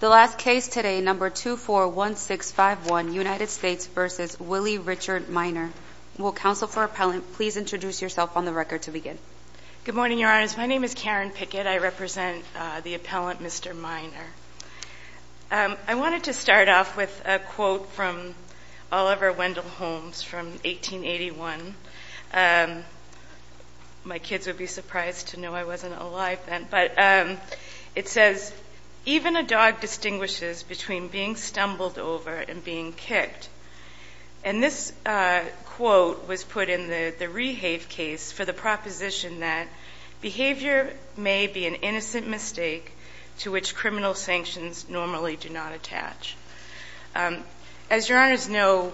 The last case today, No. 241651, United States v. Willie Richard Minor. Will counsel for appellant please introduce yourself on the record to begin? Good morning, Your Honors. My name is Karen Pickett. I represent the appellant, Mr. Minor. I wanted to start off with a quote from Oliver Wendell Holmes from 1881. My kids would be surprised to know I wasn't alive then, but it says, even a dog distinguishes between being stumbled over and being kicked. And this quote was put in the Rehave case for the proposition that behavior may be an innocent mistake to which criminal sanctions normally do not attach. As Your Honors know,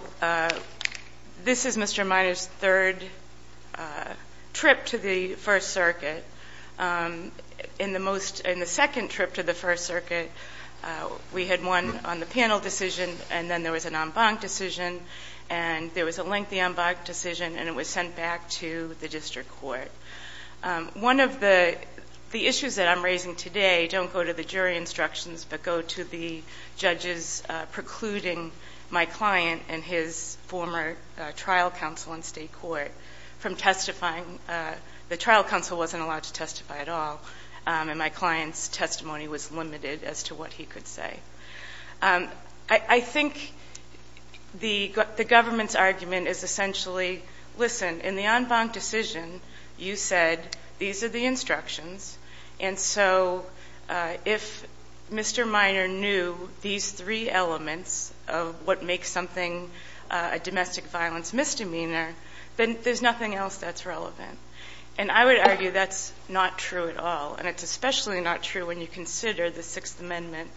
this is Mr. Minor's third trip to the First Circuit. In the second trip to the First Circuit, we had one on the panel decision, and then there was an en banc decision, and there was a lengthy en banc decision, and it was sent back to the district court. One of the issues that I'm raising today don't go to the jury instructions, but go to the judges precluding my client and his former trial counsel in state court from testifying. The trial counsel wasn't allowed to testify at all, and my client's testimony was limited as to what he could say. I think the government's argument is essentially, listen, in the en banc decision, you said these are the instructions, and so if Mr. Minor knew these three elements of what makes something a domestic violence misdemeanor, then there's nothing else that's relevant. And I would argue that's not true at all, and it's especially not true when you consider the Sixth Amendment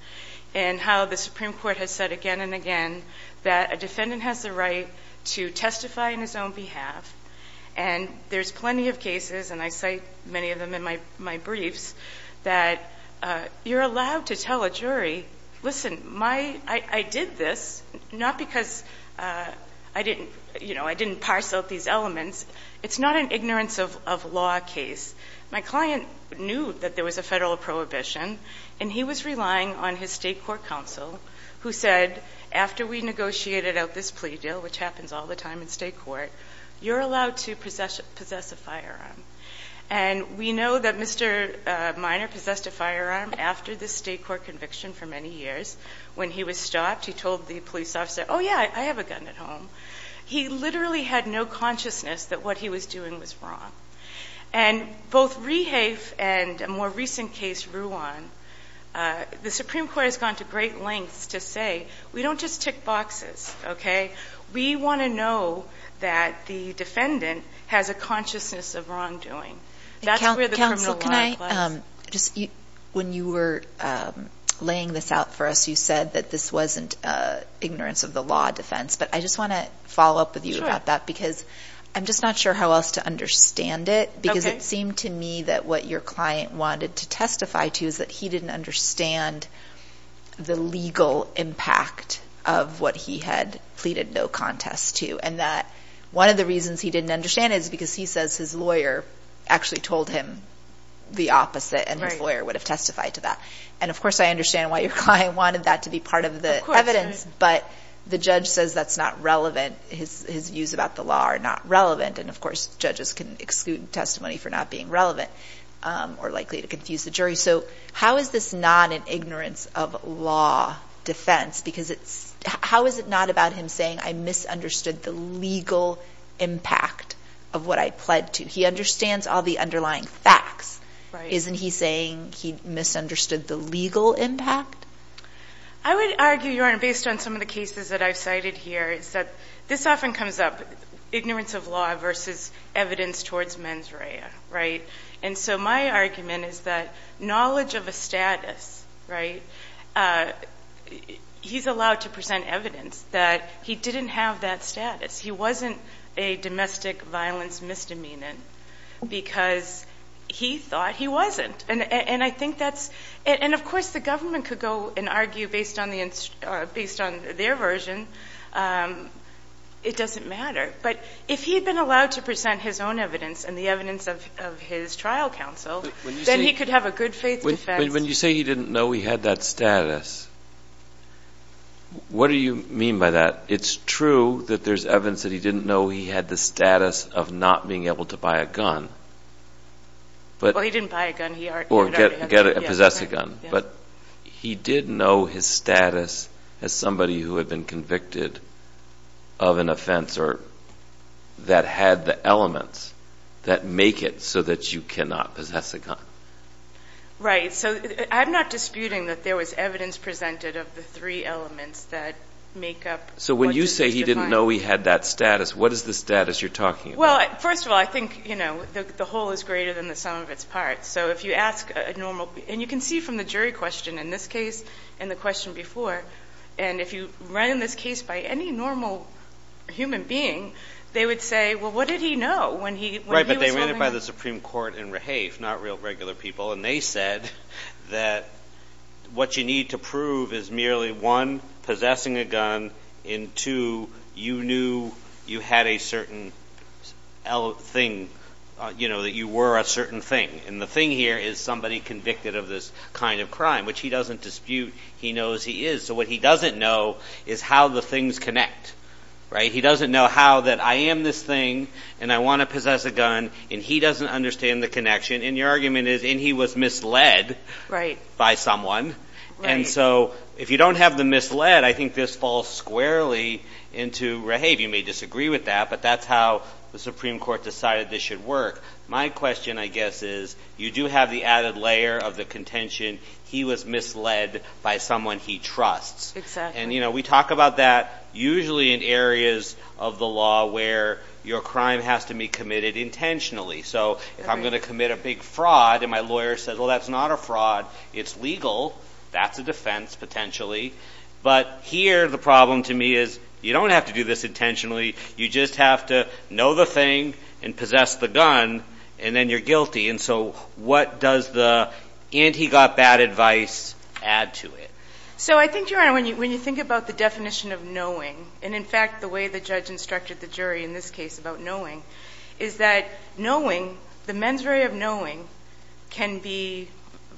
and how the Supreme Court has said again and again that a defendant has the right to testify in his own behalf, and there's plenty of cases, and I cite many of them in my briefs, that you're allowed to tell a jury, listen, I did this not because I didn't parse out these elements. It's not an ignorance of law case. My client knew that there was a federal prohibition, and he was relying on his state court counsel who said, after we negotiated out this plea deal, which happens all the time in state court, you're allowed to possess a firearm. And we know that Mr. Minor possessed a firearm after the state court conviction for many years. When he was stopped, he told the police officer, oh yeah, I have a gun at home. He literally had no consciousness that what he was doing was wrong. And both Rehafe and a more recent case, Rouen, the Supreme Court has gone to great lengths to say, we don't just tick boxes, okay? We want to know that the defendant has a consciousness of wrongdoing. That's where the criminal law applies. When you were laying this out for us, you said that this wasn't ignorance of the law defense, but I just want to follow up with you about that because I'm just not sure how else to understand it because it seemed to me that what your client wanted to testify to is that he didn't understand the legal impact of what he had pleaded no contest to and that one of the reasons he didn't understand is because he says his lawyer actually told him the opposite and his lawyer would have testified to that. And of course, I understand why your client wanted that to be part of the evidence, but the judge says that's not relevant. His views about the law are not relevant. And of course, judges can exclude testimony for not being relevant or likely to confuse the jury. So how is this not an ignorance of law defense? How is it not about him saying, I misunderstood the legal impact of what I pled to? He understands all the underlying facts. Isn't he saying he misunderstood the legal impact? I would argue, Your Honor, based on some of the cases that I've cited here is that this often comes up, ignorance of law versus evidence towards mens rea, right? And so my argument is that knowledge of a status, right? He's allowed to present evidence that he didn't have that status. He wasn't a domestic violence misdemeanant because he thought he wasn't. And I think that's, and of course the government could go and argue based on their version. It doesn't matter. But if he had been allowed to present his own evidence and the trial counsel, then he could have a good faith defense. When you say he didn't know he had that status, what do you mean by that? It's true that there's evidence that he didn't know he had the status of not being able to buy a gun. Well, he didn't buy a gun. Or possess a gun. But he did know his status as somebody who had been convicted of an offense or that had the elements that make it so that you cannot possess a gun. Right. So I'm not disputing that there was evidence presented of the three elements that make up. So when you say he didn't know he had that status, what is the status you're talking about? Well, first of all, I think, you know, the whole is greater than the sum of its parts. So if you ask a normal, and you can see from the jury question in this case and the question before, and if you run in this case by any normal human being, they would say, well, what did he know? Right, but they ran it by the Supreme Court in Rahafe, not real regular people, and they said that what you need to prove is merely, one, possessing a gun, and two, you knew you had a certain thing, you know, that you were a certain thing. And the thing here is somebody convicted of this kind of crime, which he doesn't dispute. He knows he is. So what he doesn't know is how the things connect, right? He doesn't know how that I am this thing, and I want to possess a gun, and he doesn't understand the connection. And your argument is, and he was misled by someone. And so if you don't have the misled, I think this falls squarely into Rahafe. You may disagree with that, but that's how the Supreme Court decided this should work. My question, I guess, is you do have the added layer of the contention, he was misled by someone he trusts. And, you know, we talk about that usually in areas of the law where your crime has to be committed intentionally. So if I'm going to commit a big fraud, and my lawyer says, well, that's not a fraud, it's legal, that's a defense potentially. But here the problem to me is you don't have to do this intentionally. You just have to know the thing, and possess the gun, and then you're guilty. And so what does the, and he got bad advice, add to it? So I think, Your Honor, when you think about the definition of knowing, and in fact the way the judge instructed the jury in this case about knowing, is that knowing, the mens rea of knowing can be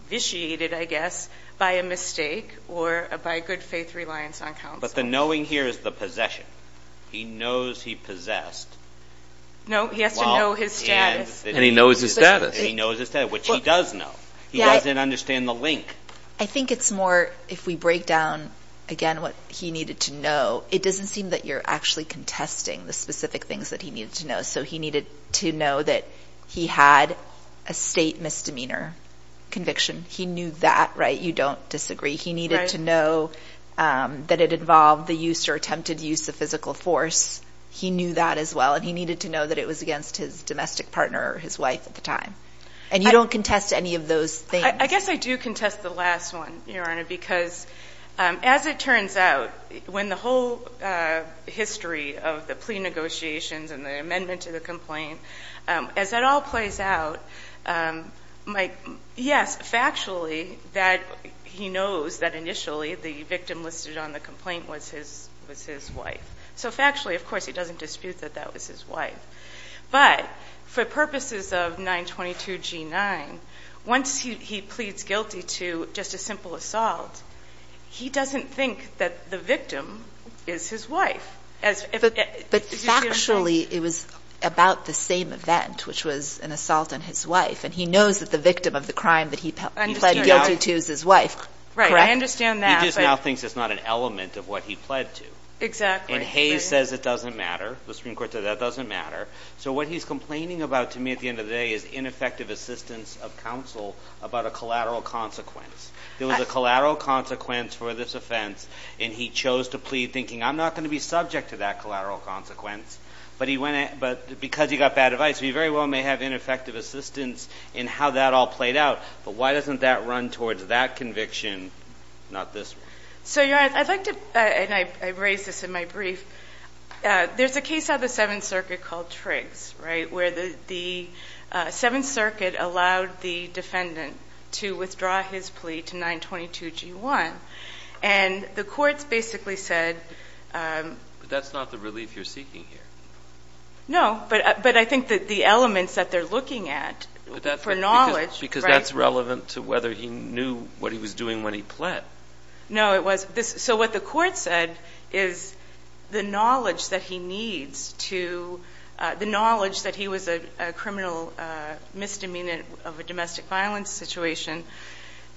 vitiated, I guess, by a mistake or by good faith reliance on counsel. But the knowing here is the possession. He knows he possessed. No, he has to know his status. And he knows his status. And he knows his status, which he does know. He doesn't understand the link. I think it's more, if we break down again what he needed to know, it doesn't seem that you're actually contesting the specific things that he needed to know. So he needed to know that he had a state misdemeanor conviction. He knew that, right? You don't disagree. He needed to know that it involved the use or attempted use of physical force. He knew that as well, and he needed to know that it was against his domestic partner or his wife at the time. And you don't contest any of those things. I guess I do contest the last one, Your Honor, because as it turns out, when the whole history of the plea negotiations and the amendment to the complaint, as that all plays out, Mike, yes, factually that he knows that initially the victim listed on the complaint was his wife. So factually, of course, he doesn't dispute that that was his wife. But for purposes of 922 G9, once he pleads guilty to just a simple assault, he doesn't think that the victim is his wife. But factually, it was about the same event, which was an assault on his wife, and he knows that the victim of the crime that he pleaded guilty to is his wife. Right. I understand that. He just now thinks it's not an element of what he pled to. Exactly. And Hayes says it doesn't matter. The Supreme Court said that doesn't matter. So what he's complaining about to me at the end of the day is ineffective assistance of counsel about a collateral consequence. There was a collateral consequence for this offense, and he chose to plead thinking, I'm not going to be subject to that collateral consequence. But because he got bad advice, he very well may have ineffective assistance in how that all played out. But why doesn't that run towards that conviction, not this one? So you're right. I'd like to, and I raised this in my brief, there's a case out of the Seventh Circuit called Triggs, right, where the Seventh Circuit allowed the defendant to withdraw his plea to 922 G1. And the courts basically said... But that's not the relief you're seeking here. No. But I think that the elements that they're looking at for knowledge... Because that's relevant to whether he knew what he was doing when he pled. No, it was... So what the court said is the knowledge that he needs to... The knowledge that he was a criminal misdemeanor of a domestic violence situation,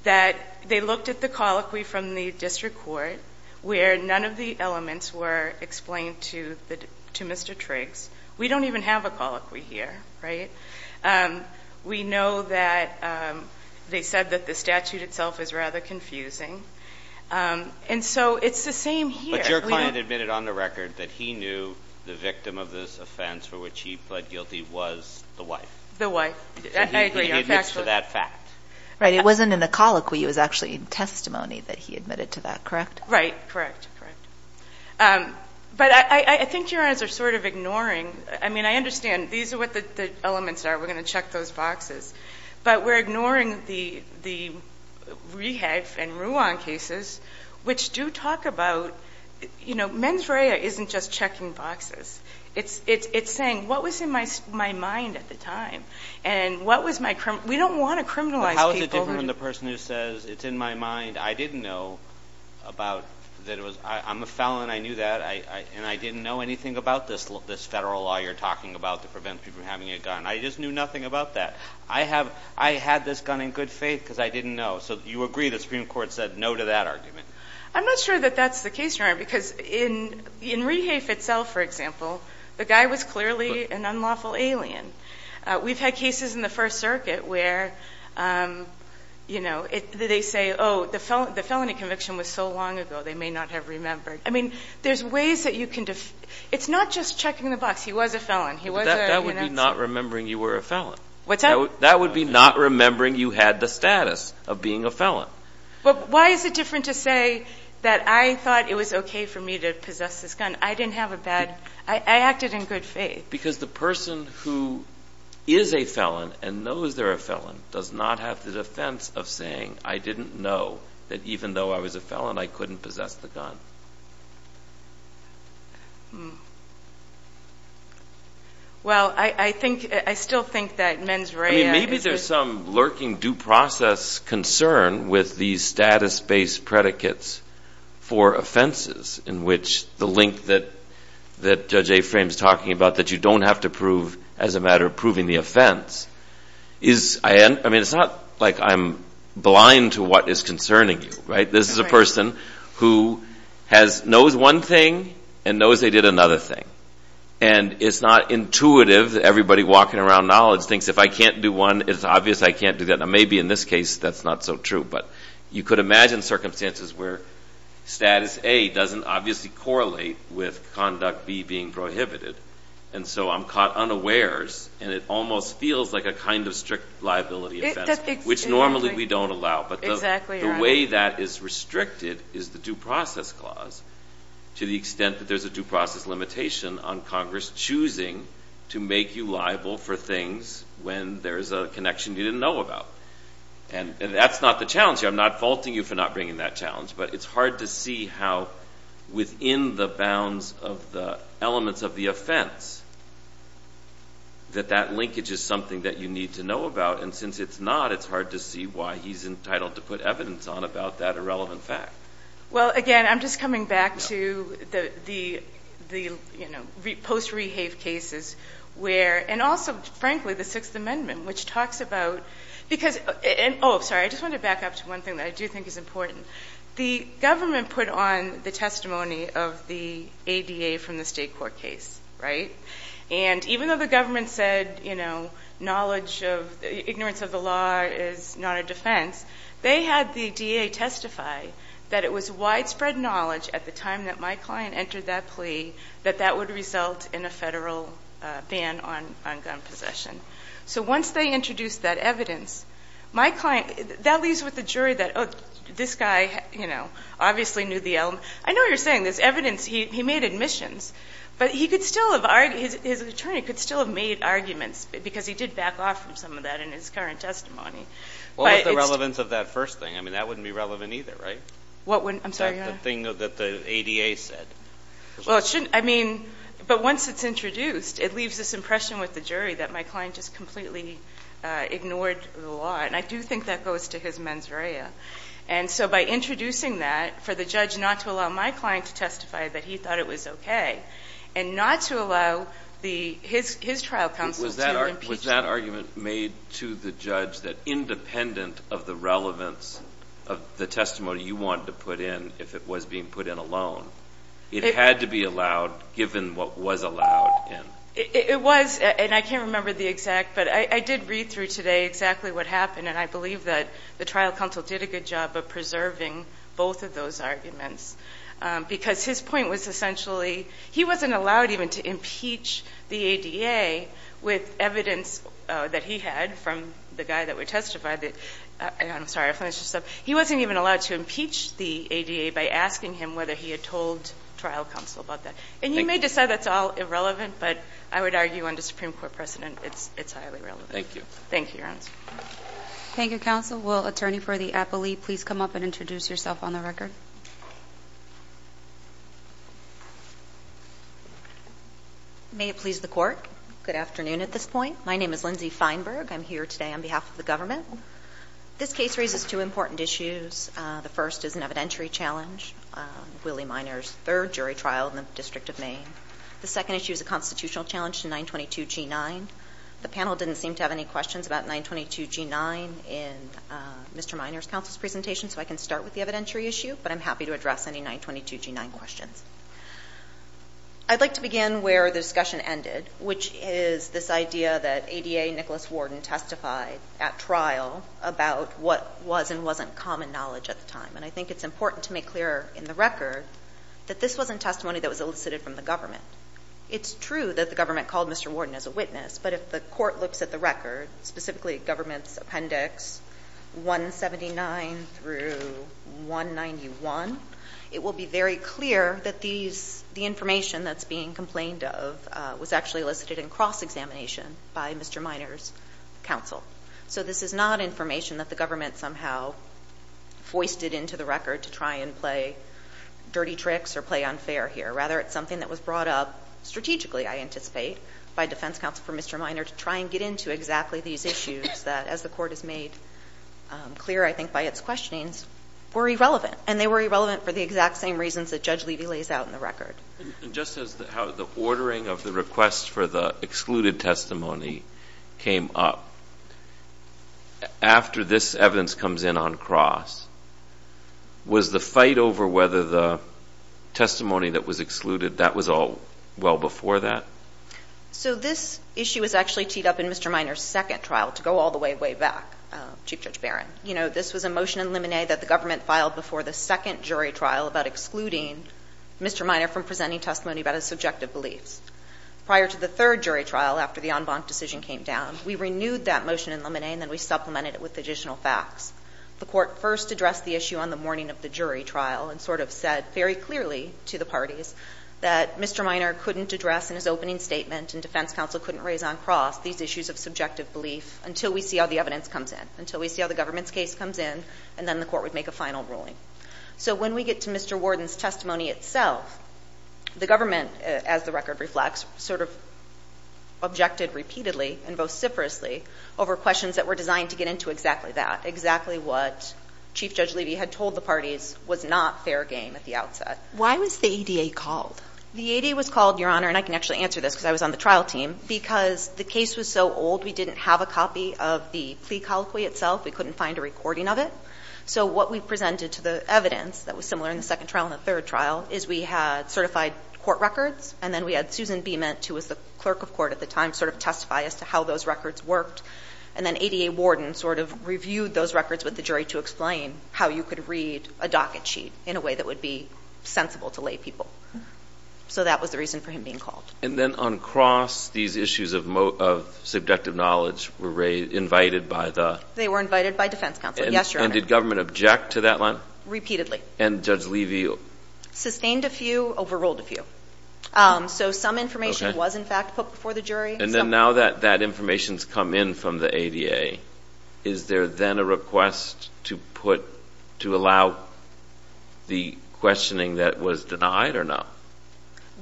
that they looked at the colloquy from the district court where none of the elements were explained to Mr. Triggs. We don't even have a colloquy here, right? We know that they said that the statute itself is rather confusing. And so it's the same here. But your client admitted on the record that he knew the victim of this offense for which he pled guilty was the wife. The wife. I agree. He admits to that fact. Right. It wasn't in the colloquy. It was actually in testimony that he admitted to that, correct? Right. Correct. Correct. But I think your honors are sort of ignoring... I mean, I understand. These are what the elements are. We're going to check those boxes. But we're ignoring the Rehab and Ruan cases, which do talk about... You know, mens rea isn't just checking boxes. It's saying, what was in my mind at the time? And what was my... We don't want to criminalize people. How is it different from the person who says, it's in my mind, I didn't know about that it was... I'm a felon. I knew that. And I didn't know anything about this federal law you're talking about to prevent people from having a gun. I just knew nothing about that. I had this gun in good faith because I didn't know. So you agree the Supreme Court said no to that argument? I'm not sure that that's the case, Your Honor, because in Rehaf itself, for example, the guy was clearly an unlawful alien. We've had cases in the First Circuit where they say, oh, the felony conviction was so long ago, they may not have remembered. I mean, there's ways that you can... It's not just checking the box. He was a felon. He was a... That would be not remembering you were a felon. What's that? That would be not remembering you had the status of being a felon. Why is it different to say that I thought it was okay for me to possess this gun? I didn't have a bad... I acted in good faith. Because the person who is a felon and knows they're a felon does not have the defense of saying, I didn't know that even though I was a felon, I couldn't possess the gun. Well, I still think that men's Reha... Maybe there's some lurking due process concern with these status-based predicates for offenses in which the link that Judge Aframe is talking about, that you don't have to prove as a matter of proving the offense. I mean, it's not like I'm blind to what is concerning you, right? This is a person who knows one thing and knows they did another thing. And it's not intuitive that everybody walking around knowledge thinks if I can't do one, it's obvious I can't do that. Now, maybe in this case, that's not so true. But you could imagine circumstances where status A doesn't obviously correlate with conduct B being prohibited. And so I'm caught unawares, and it almost feels like a kind of strict liability offense, which normally we don't allow. But the way that is restricted is the due process clause, to the extent that there's a due process limitation on Congress choosing to make you liable for things when there's a connection you didn't know about. And that's not the challenge here. I'm not faulting you for not bringing that challenge, but it's hard to see how within the bounds of the elements of the offense that that linkage is something that you need to know about. And since it's not, it's hard to see why he's entitled to put evidence on about that irrelevant fact. Well, again, I'm just coming back to the post-Rehave cases where, and also, frankly, the Sixth Amendment, which talks about, because, and oh, sorry, I just want to back up to one thing that I do think is important. The government put on the testimony of the ADA from the state court case, right? And even though the government said, you know, knowledge of, ignorance of the is not a defense, they had the DA testify that it was widespread knowledge at the time that my client entered that plea that that would result in a federal ban on gun possession. So once they introduced that evidence, my client, that leaves with the jury that, oh, this guy, you know, obviously knew the element. I know what you're saying. There's evidence. He made admissions. But he could still have, his attorney could still have made arguments because he did back off from some of that in his current testimony. What about the relevance of that first thing? I mean, that wouldn't be relevant either, right? What wouldn't, I'm sorry, Your Honor? The thing that the ADA said. Well, it shouldn't, I mean, but once it's introduced, it leaves this impression with the jury that my client just completely ignored the law. And I do think that goes to his mens rea. And so by introducing that for the judge not to allow my client to testify that he thought it was okay and not to allow his trial counsel to impeach him. Was that argument made to the judge that independent of the relevance of the testimony you wanted to put in, if it was being put in alone, it had to be allowed given what was allowed? It was. And I can't remember the exact, but I did read through today exactly what happened. And I believe that the trial counsel did a good job of preserving both of those arguments because his point was essentially, he wasn't allowed even to impeach the ADA with evidence that he had from the guy that would testify that, I'm sorry, I finished this up. He wasn't even allowed to impeach the ADA by asking him whether he had told trial counsel about that. And you may decide that's all irrelevant, but I would argue under Supreme Court precedent, it's highly relevant. Thank you. Thank you, Your Honor. Thank you, counsel. Will attorney for the appellee, please come up and introduce yourself on the record? May it please the court. Good afternoon at this point. My name is Lindsay Feinberg. I'm here today on behalf of the government. This case raises two important issues. The first is an evidentiary challenge, Willie Miner's third jury trial in the District of Maine. The second issue is a constitutional challenge to 922 G9. The panel didn't seem to have any questions about 922 G9 in Mr. Miner's counsel's presentation, so I can start with the evidentiary issue, but I'm happy to address any 922 G9 questions. I'd like to begin where the discussion ended, which is this idea that ADA Nicholas Warden testified at trial about what was and wasn't common knowledge at the time. And I think it's important to make clear in the record that this wasn't testimony that was elicited from the government. It's true that the government called Mr. Warden as a witness, but if the court looks at the record, specifically government's appendix 179-191, it will be very clear that the information that's being complained of was actually elicited in cross-examination by Mr. Miner's counsel. So this is not information that the government somehow foisted into the record to try and play dirty tricks or play unfair here. Rather, it's something that was brought up strategically, I anticipate, by defense counsel for Mr. Miner to try and get into exactly these issues that, as the court has made clear, I think, by its questionings, were irrelevant. And they were irrelevant for the exact same reasons that Judge Levy lays out in the record. And just as how the ordering of the request for the excluded testimony came up, after this evidence comes in on cross, was the fight over whether the testimony that was all well before that? So this issue was actually teed up in Mr. Miner's second trial, to go all the way, way back, Chief Judge Barron. You know, this was a motion in limine that the government filed before the second jury trial about excluding Mr. Miner from presenting testimony about his subjective beliefs. Prior to the third jury trial, after the en banc decision came down, we renewed that motion in limine, and then we supplemented it with additional facts. The court first addressed the issue on the morning of the jury trial and sort of said very clearly to the parties that Mr. Miner couldn't address in his opening statement and defense counsel couldn't raise on cross these issues of subjective belief until we see how the evidence comes in, until we see how the government's case comes in, and then the court would make a final ruling. So when we get to Mr. Warden's testimony itself, the government, as the record reflects, sort of objected repeatedly and vociferously over questions that were designed to get into exactly that, exactly what Chief Judge Levy had told the parties was not fair game at the outset. Why was the ADA called? The ADA was called, Your Honor, and I can actually answer this because I was on the trial team, because the case was so old, we didn't have a copy of the plea colloquy itself. We couldn't find a recording of it. So what we presented to the evidence that was similar in the second trial and the third trial is we had certified court records, and then we had Susan Beamant, who was the clerk of court at the time, sort of testify as to how those records worked, and then ADA Warden sort of reviewed those records with the jury to explain how you could read a docket sheet in a way that would be sensible to lay people. So that was the reason for him being called. And then on cross, these issues of subjective knowledge were invited by the? They were invited by defense counsel, yes, Your Honor. And did government object to that line? Repeatedly. And Judge Levy? Sustained a few, overruled a few. So some information was in fact put before the jury. And then now that that information's come in from the ADA, is there then a request to put, to allow the questioning that was denied or not?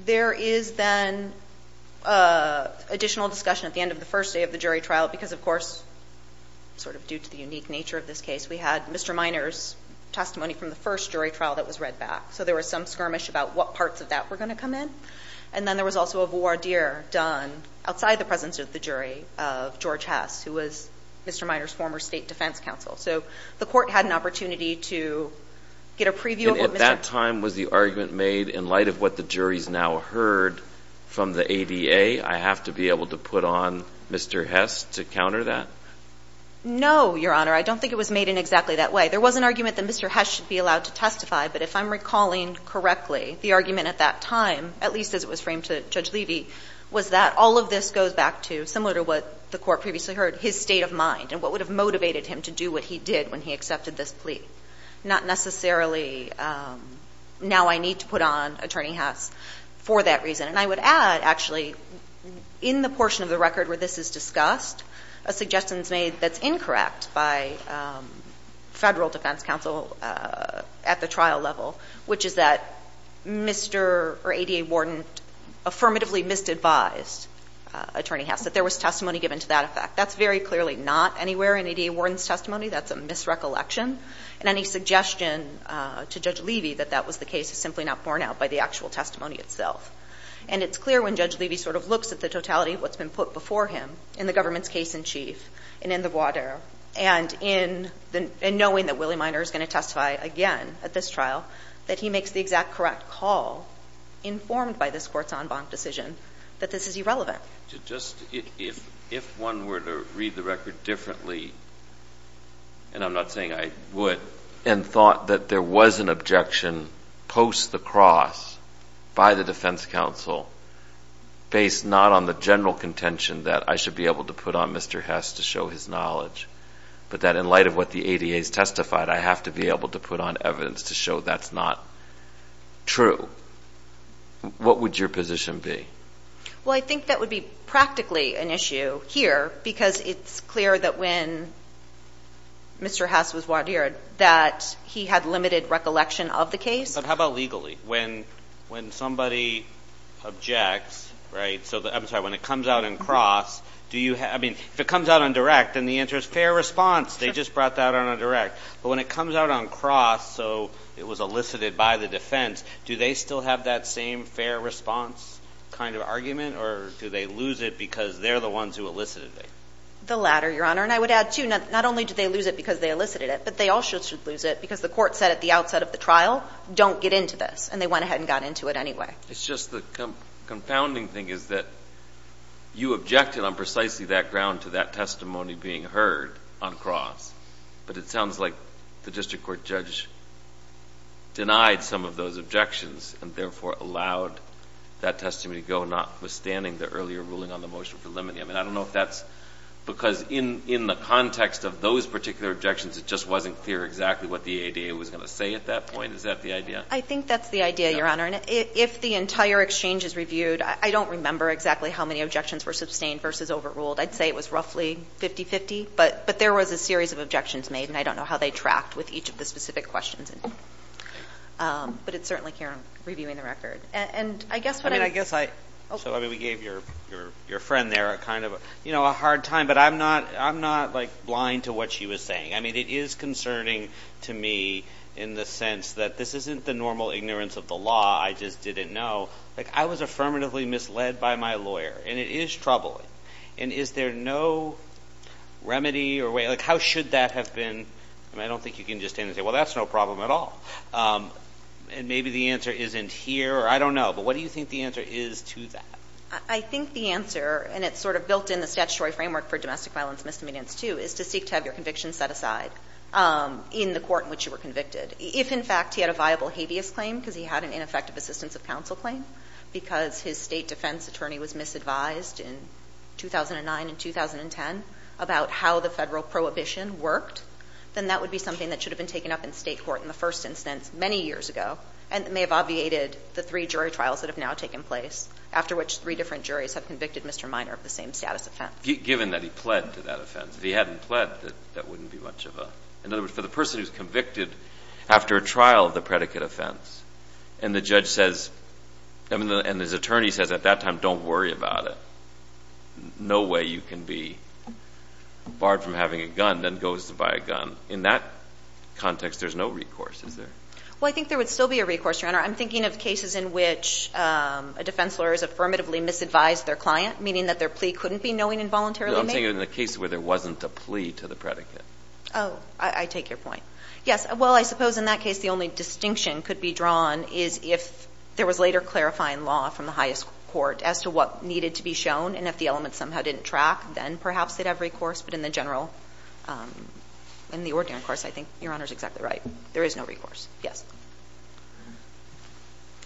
There is then additional discussion at the end of the first day of the jury trial, because of course, sort of due to the unique nature of this case, we had Mr. Miner's testimony from the first jury trial that was read back. So there was some skirmish about what parts of that were going to come in. And then there was also a voir dire done outside the presence of the jury of George Hess, who was Mr. Miner's former state defense counsel. So the court had an opportunity to get a preview of what Mr.? At that time, was the argument made in light of what the jury's now heard from the ADA, I have to be able to put on Mr. Hess to counter that? No, Your Honor. I don't think it was made in exactly that way. There was an argument that Mr. Hess should be allowed to testify. But if I'm recalling correctly, the argument at that time, at least as it was framed to Judge Levy, was that all of this goes back to, similar to what the court previously heard, his state of mind and what would have motivated him to do what he did when he accepted this plea. Not necessarily, now I need to put on Attorney Hess for that reason. And I would add actually, in the portion of the record where this is discussed, a suggestion is made that's incorrect by federal defense counsel at the trial level, which is that Mr.? Or ADA warden affirmatively misadvised Attorney Hess, that there was testimony given to that effect. That's very clearly not anywhere in ADA warden's testimony. That's a misrecollection. And any suggestion to Judge Levy that that was the case is simply not borne out by the actual testimony itself. And it's clear when Judge Levy sort of looks at the totality of what's been put before him in the government's case-in-chief and in the voir dire, and in the knowing that Willie Minor is going to testify again at this trial, that he makes the exact correct call, informed by this court's en banc decision, that this is irrelevant. Just, if one were to read the record differently, and I'm not saying I would, and thought that there was an objection post the cross by the defense counsel, based not on the general contention that I should be able to put on Mr. Hess to show his knowledge, but that in light of what the ADA has testified, I have to be able to put on evidence to show that's not true, what would your position be? Well, I think that would be practically an issue here, because it's clear that when Mr. Hess was voir dired, that he had limited recollection of the case. But how about legally? When somebody objects, right? So, I'm sorry, when it comes out on cross, do you have, I mean, if it comes out on direct, then the answer is fair response, they just brought that out on a direct. But when it comes out on cross, so it was elicited by the defense, do they still have that same fair response kind of argument, or do they lose it because they're the ones who elicited it? The latter, your honor. And I would add, too, not only do they lose it because they elicited it, but they also should lose it because the court said at the outset of the trial, don't get into this. And they went ahead and got into it anyway. It's just the confounding thing is that you objected on precisely that ground to that testimony being heard on cross, but it sounds like the district court judge denied some of those objections and therefore allowed that testimony to go, notwithstanding the earlier ruling on the motion for limiting. I mean, I don't know if that's, because in the context of those particular objections, it just wasn't clear exactly what the ADA was going to say at that point. Is that the idea? I think that's the idea, your honor. And if the entire exchange is reviewed, I don't remember exactly how many objections were sustained versus overruled. I'd say it was roughly 50-50, but there was a series of objections made, and I don't know how they tracked with each of the specific questions. But it's certainly here, I'm reviewing the record. And I guess what I mean, I guess I, so I mean, we gave your friend there a kind of, you know, a hard time, but I'm not, I'm not like blind to what she was saying. I mean, it is concerning to me in the sense that this isn't the normal ignorance of the law, I just didn't know. Like, I was affirmatively misled by my lawyer, and it is troubling. And is there no remedy or way, like, how should that have been? I mean, I don't think you can just stand and say, well, that's no problem at all. And maybe the answer isn't here, or I don't know. But what do you think the answer is to that? I think the answer, and it's sort of built in the statutory framework for domestic violence misdemeanors too, is to seek to have your conviction set aside in the court in which you were convicted. If, in fact, he had a viable habeas claim, because he had an ineffective assistance of counsel claim, because his State defense attorney was misadvised in 2009 and 2010 about how the Federal prohibition worked, then that would be something that should have been taken up in State court in the first instance many years ago, and may have obviated the three jury trials that have now taken place, after which three different juries have convicted Mr. Minor of the same status offense. Given that he pled to that offense, if he hadn't pled, that wouldn't be much of a... In other words, for the person who's convicted after a trial of the predicate offense, and the judge says, and his attorney says at that time, don't worry about it, no way you can be barred from having a gun, then goes to buy a gun. In that context, there's no recourse, is there? Well, I think there would still be a recourse, Your Honor. I'm thinking of cases in which a defense lawyer has affirmatively misadvised their client, meaning that their plea couldn't be knowing involuntarily made. I'm saying in the case where there wasn't a plea to the predicate. Oh, I take your point. Yes. Well, I suppose in that case, the only distinction could be drawn is if there was later clarifying law from the highest court as to what needed to be shown, and if the element somehow didn't track, then perhaps they'd have recourse. But in the general, in the ordinary course, I think Your Honor's exactly right. There is no recourse. Yes.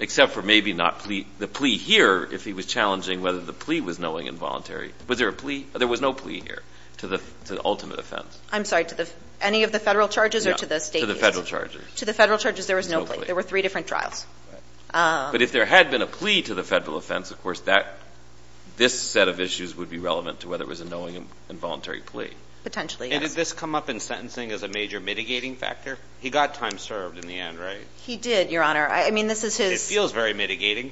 Except for maybe not the plea here, if he was challenging whether the plea was knowing involuntary, was there a plea? There was no plea here to the ultimate offense. I'm sorry, to any of the Federal charges or to the State? To the Federal charges. To the Federal charges, there was no plea. There were three different trials. But if there had been a plea to the Federal offense, of course, this set of issues would be relevant to whether it was a knowing involuntary plea. Potentially, yes. And did this come up in sentencing as a major mitigating factor? He got time served in the end, right? He did, Your Honor. I mean, this is his... It feels very mitigating.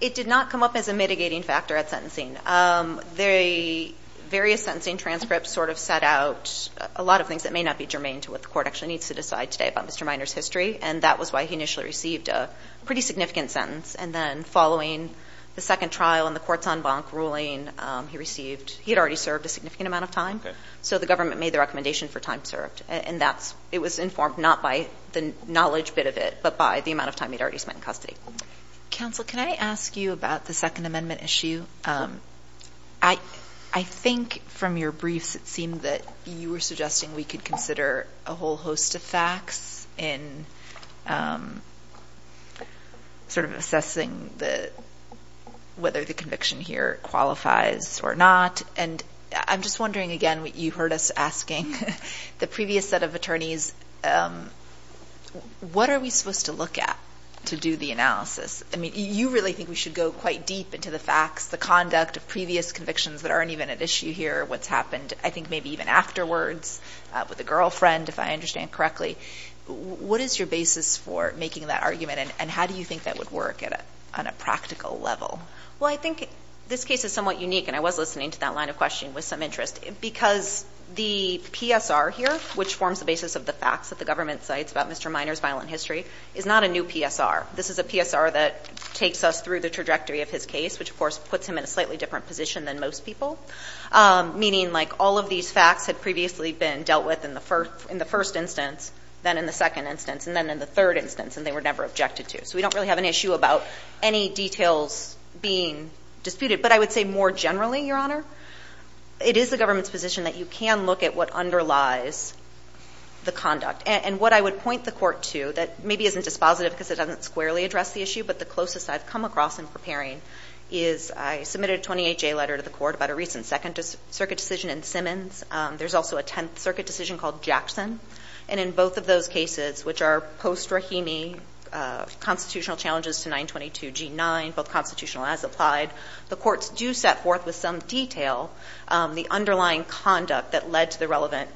It did not come up as a mitigating factor at sentencing. Various sentencing transcripts sort of set out a lot of things that may not be germane to what the Court actually needs to decide today about Mr. Minor's history. And that was why he initially received a pretty significant sentence. And then following the second trial and the court's en banc ruling, he had already served a significant amount of time. So the government made the recommendation for time served. It was informed not by the knowledge bit of it, but by the amount of time he'd already spent in custody. Counsel, can I ask you about the Second Amendment issue? I think from your briefs, it seemed that you were suggesting we could consider a whole host of facts in sort of assessing whether the conviction here qualifies or not. And I'm just wondering, again, you heard us asking the previous set of attorneys, what are we supposed to look at to do the analysis? I mean, you really think we should go quite deep into the facts, the conduct of previous convictions that aren't even at issue here, what's happened, I think, maybe even afterwards with the girlfriend, if I understand correctly. What is your basis for making that argument? And how do you think that would work on a practical level? Well, I think this case is somewhat unique, and I was listening to that line of question with some interest, because the PSR here, which forms the basis of the facts that the government cites about Mr. Miner's violent history, is not a new PSR. This is a PSR that takes us through the trajectory of his case, which, of course, puts him in a slightly different position than most people, meaning all of these facts had previously been dealt with in the first instance, then in the second instance, and then in the third instance, and they were never objected to. So we don't really have an issue about any details being disputed. But I would say more generally, Your Honor, it is the government's position that you can look at what underlies the conduct. And what I would point the court to that maybe isn't dispositive because it doesn't squarely address the issue, but the closest I've come across in preparing is I submitted a 28-J letter to the court about a recent Second Circuit decision in Simmons. There's also a Tenth Circuit decision called Jackson. And in both of those cases, which are post-Rahimi constitutional challenges to 922 G9, both constitutional as applied, the courts do set forth with some detail the underlying conduct that led to the relevant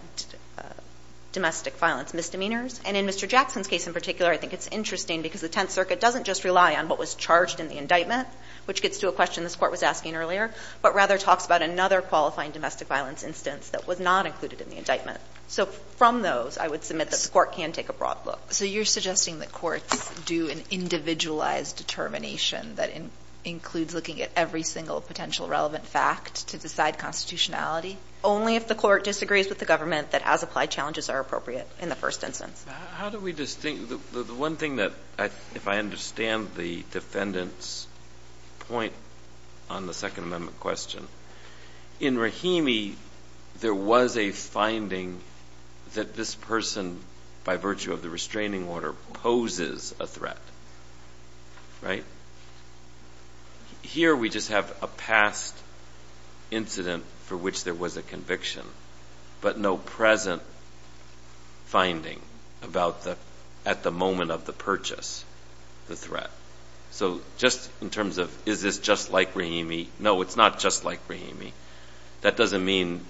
domestic violence misdemeanors. And in Mr. Jackson's case in particular, I think it's interesting because the Tenth Circuit doesn't just rely on what was charged in the indictment, which gets to a question this court was asking earlier, but rather talks about another qualifying domestic violence instance that was not included in the indictment. So from those, I would submit that the court can take a broad look. So you're suggesting that courts do an individualized determination that includes looking at every single potential relevant fact to decide constitutionality only if the court disagrees with the government that as-applied challenges are appropriate in the first instance? How do we distinguish? The one thing that, if I understand the defendant's point on the Second Amendment question, in Rahimi, there was a finding that this person, by virtue of the restraining order, poses a threat, right? Here, we just have a past incident for which there was a conviction, but no present finding at the moment of the purchase, the threat. So just in terms of, is this just like Rahimi? No, it's not just like Rahimi. That doesn't mean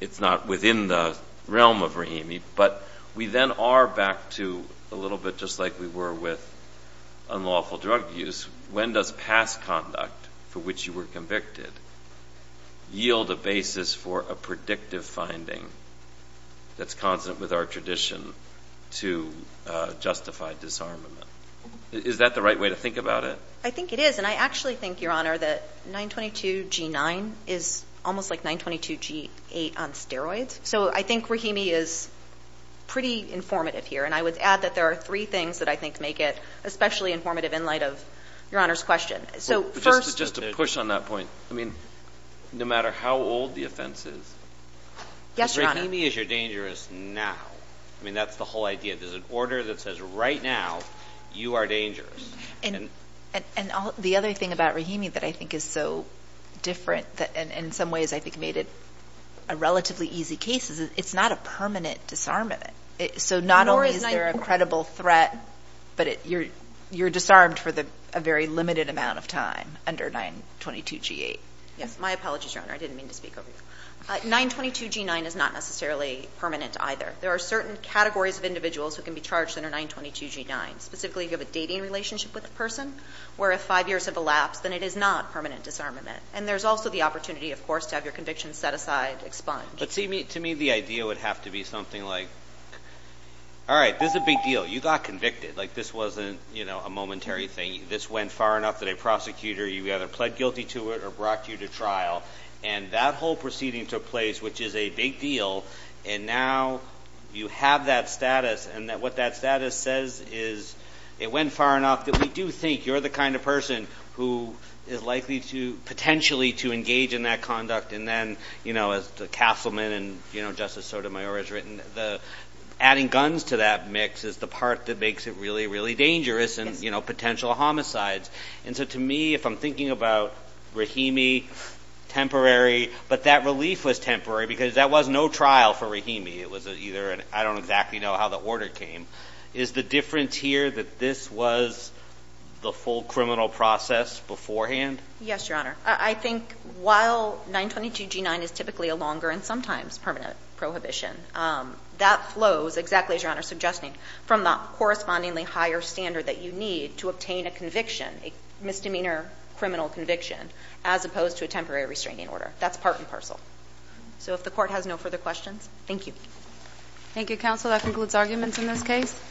it's not within the realm of Rahimi, but we then are back to a little bit just like we were with unlawful drug use. When does past conduct for which you were convicted yield a basis for a predictive finding that's constant with our tradition to justify disarmament? Is that the right way to think about it? I think it is. And I actually think, Your Honor, that 922 G9 is almost like 922 G8 on steroids. So I think Rahimi is pretty informative here. And I would add that there are three things that I think make it especially informative in light of Your Honor's question. So first- Just to push on that point. I mean, no matter how old the offense is- Yes, Your Honor. Rahimi is your dangerous now. I mean, that's the whole idea. There's an order that says, right now, you are dangerous. And the other thing about Rahimi that I think is so different and in some ways, I think, made it a relatively easy case is it's not a permanent disarmament. So not only is there a credible threat, but you're disarmed for a very limited amount of time under 922 G8. Yes. My apologies, Your Honor. I didn't mean to speak over you. 922 G9 is not necessarily permanent either. There are certain categories of individuals who can be charged under 922 G9. Specifically, if you have a dating relationship with a person, where if five years have elapsed, then it is not permanent disarmament. And there's also the opportunity, of course, to have your conviction set aside, expunged. But to me, the idea would have to be something like, all right, this is a big deal. You got convicted. Like, this wasn't a momentary thing. This went far enough that a prosecutor, you either pled guilty to it or brought you to trial. And that whole proceeding took place, which is a big deal. And now, you have that status. And what that status says is, it went far enough that we do think you're the kind of person who is likely to potentially to engage in that conduct. And then, as the Castleman and Justice Sotomayor has written, adding guns to that mix is the part that makes it really, really dangerous, and potential homicides. And so to me, if I'm thinking about Rahimi, temporary. But that relief was temporary because that was no trial for Rahimi. It was either an, I don't exactly know how the order came. Is the difference here that this was the full criminal process beforehand? Yes, Your Honor. I think while 922 G9 is typically a longer and sometimes permanent prohibition, that flows, exactly as Your Honor is suggesting, from the correspondingly higher standard that you need to obtain a conviction, a misdemeanor criminal conviction, as opposed to a temporary restraining order. That's part and parcel. So if the Court has no further questions, thank you. Thank you, Counsel. That concludes arguments in this case.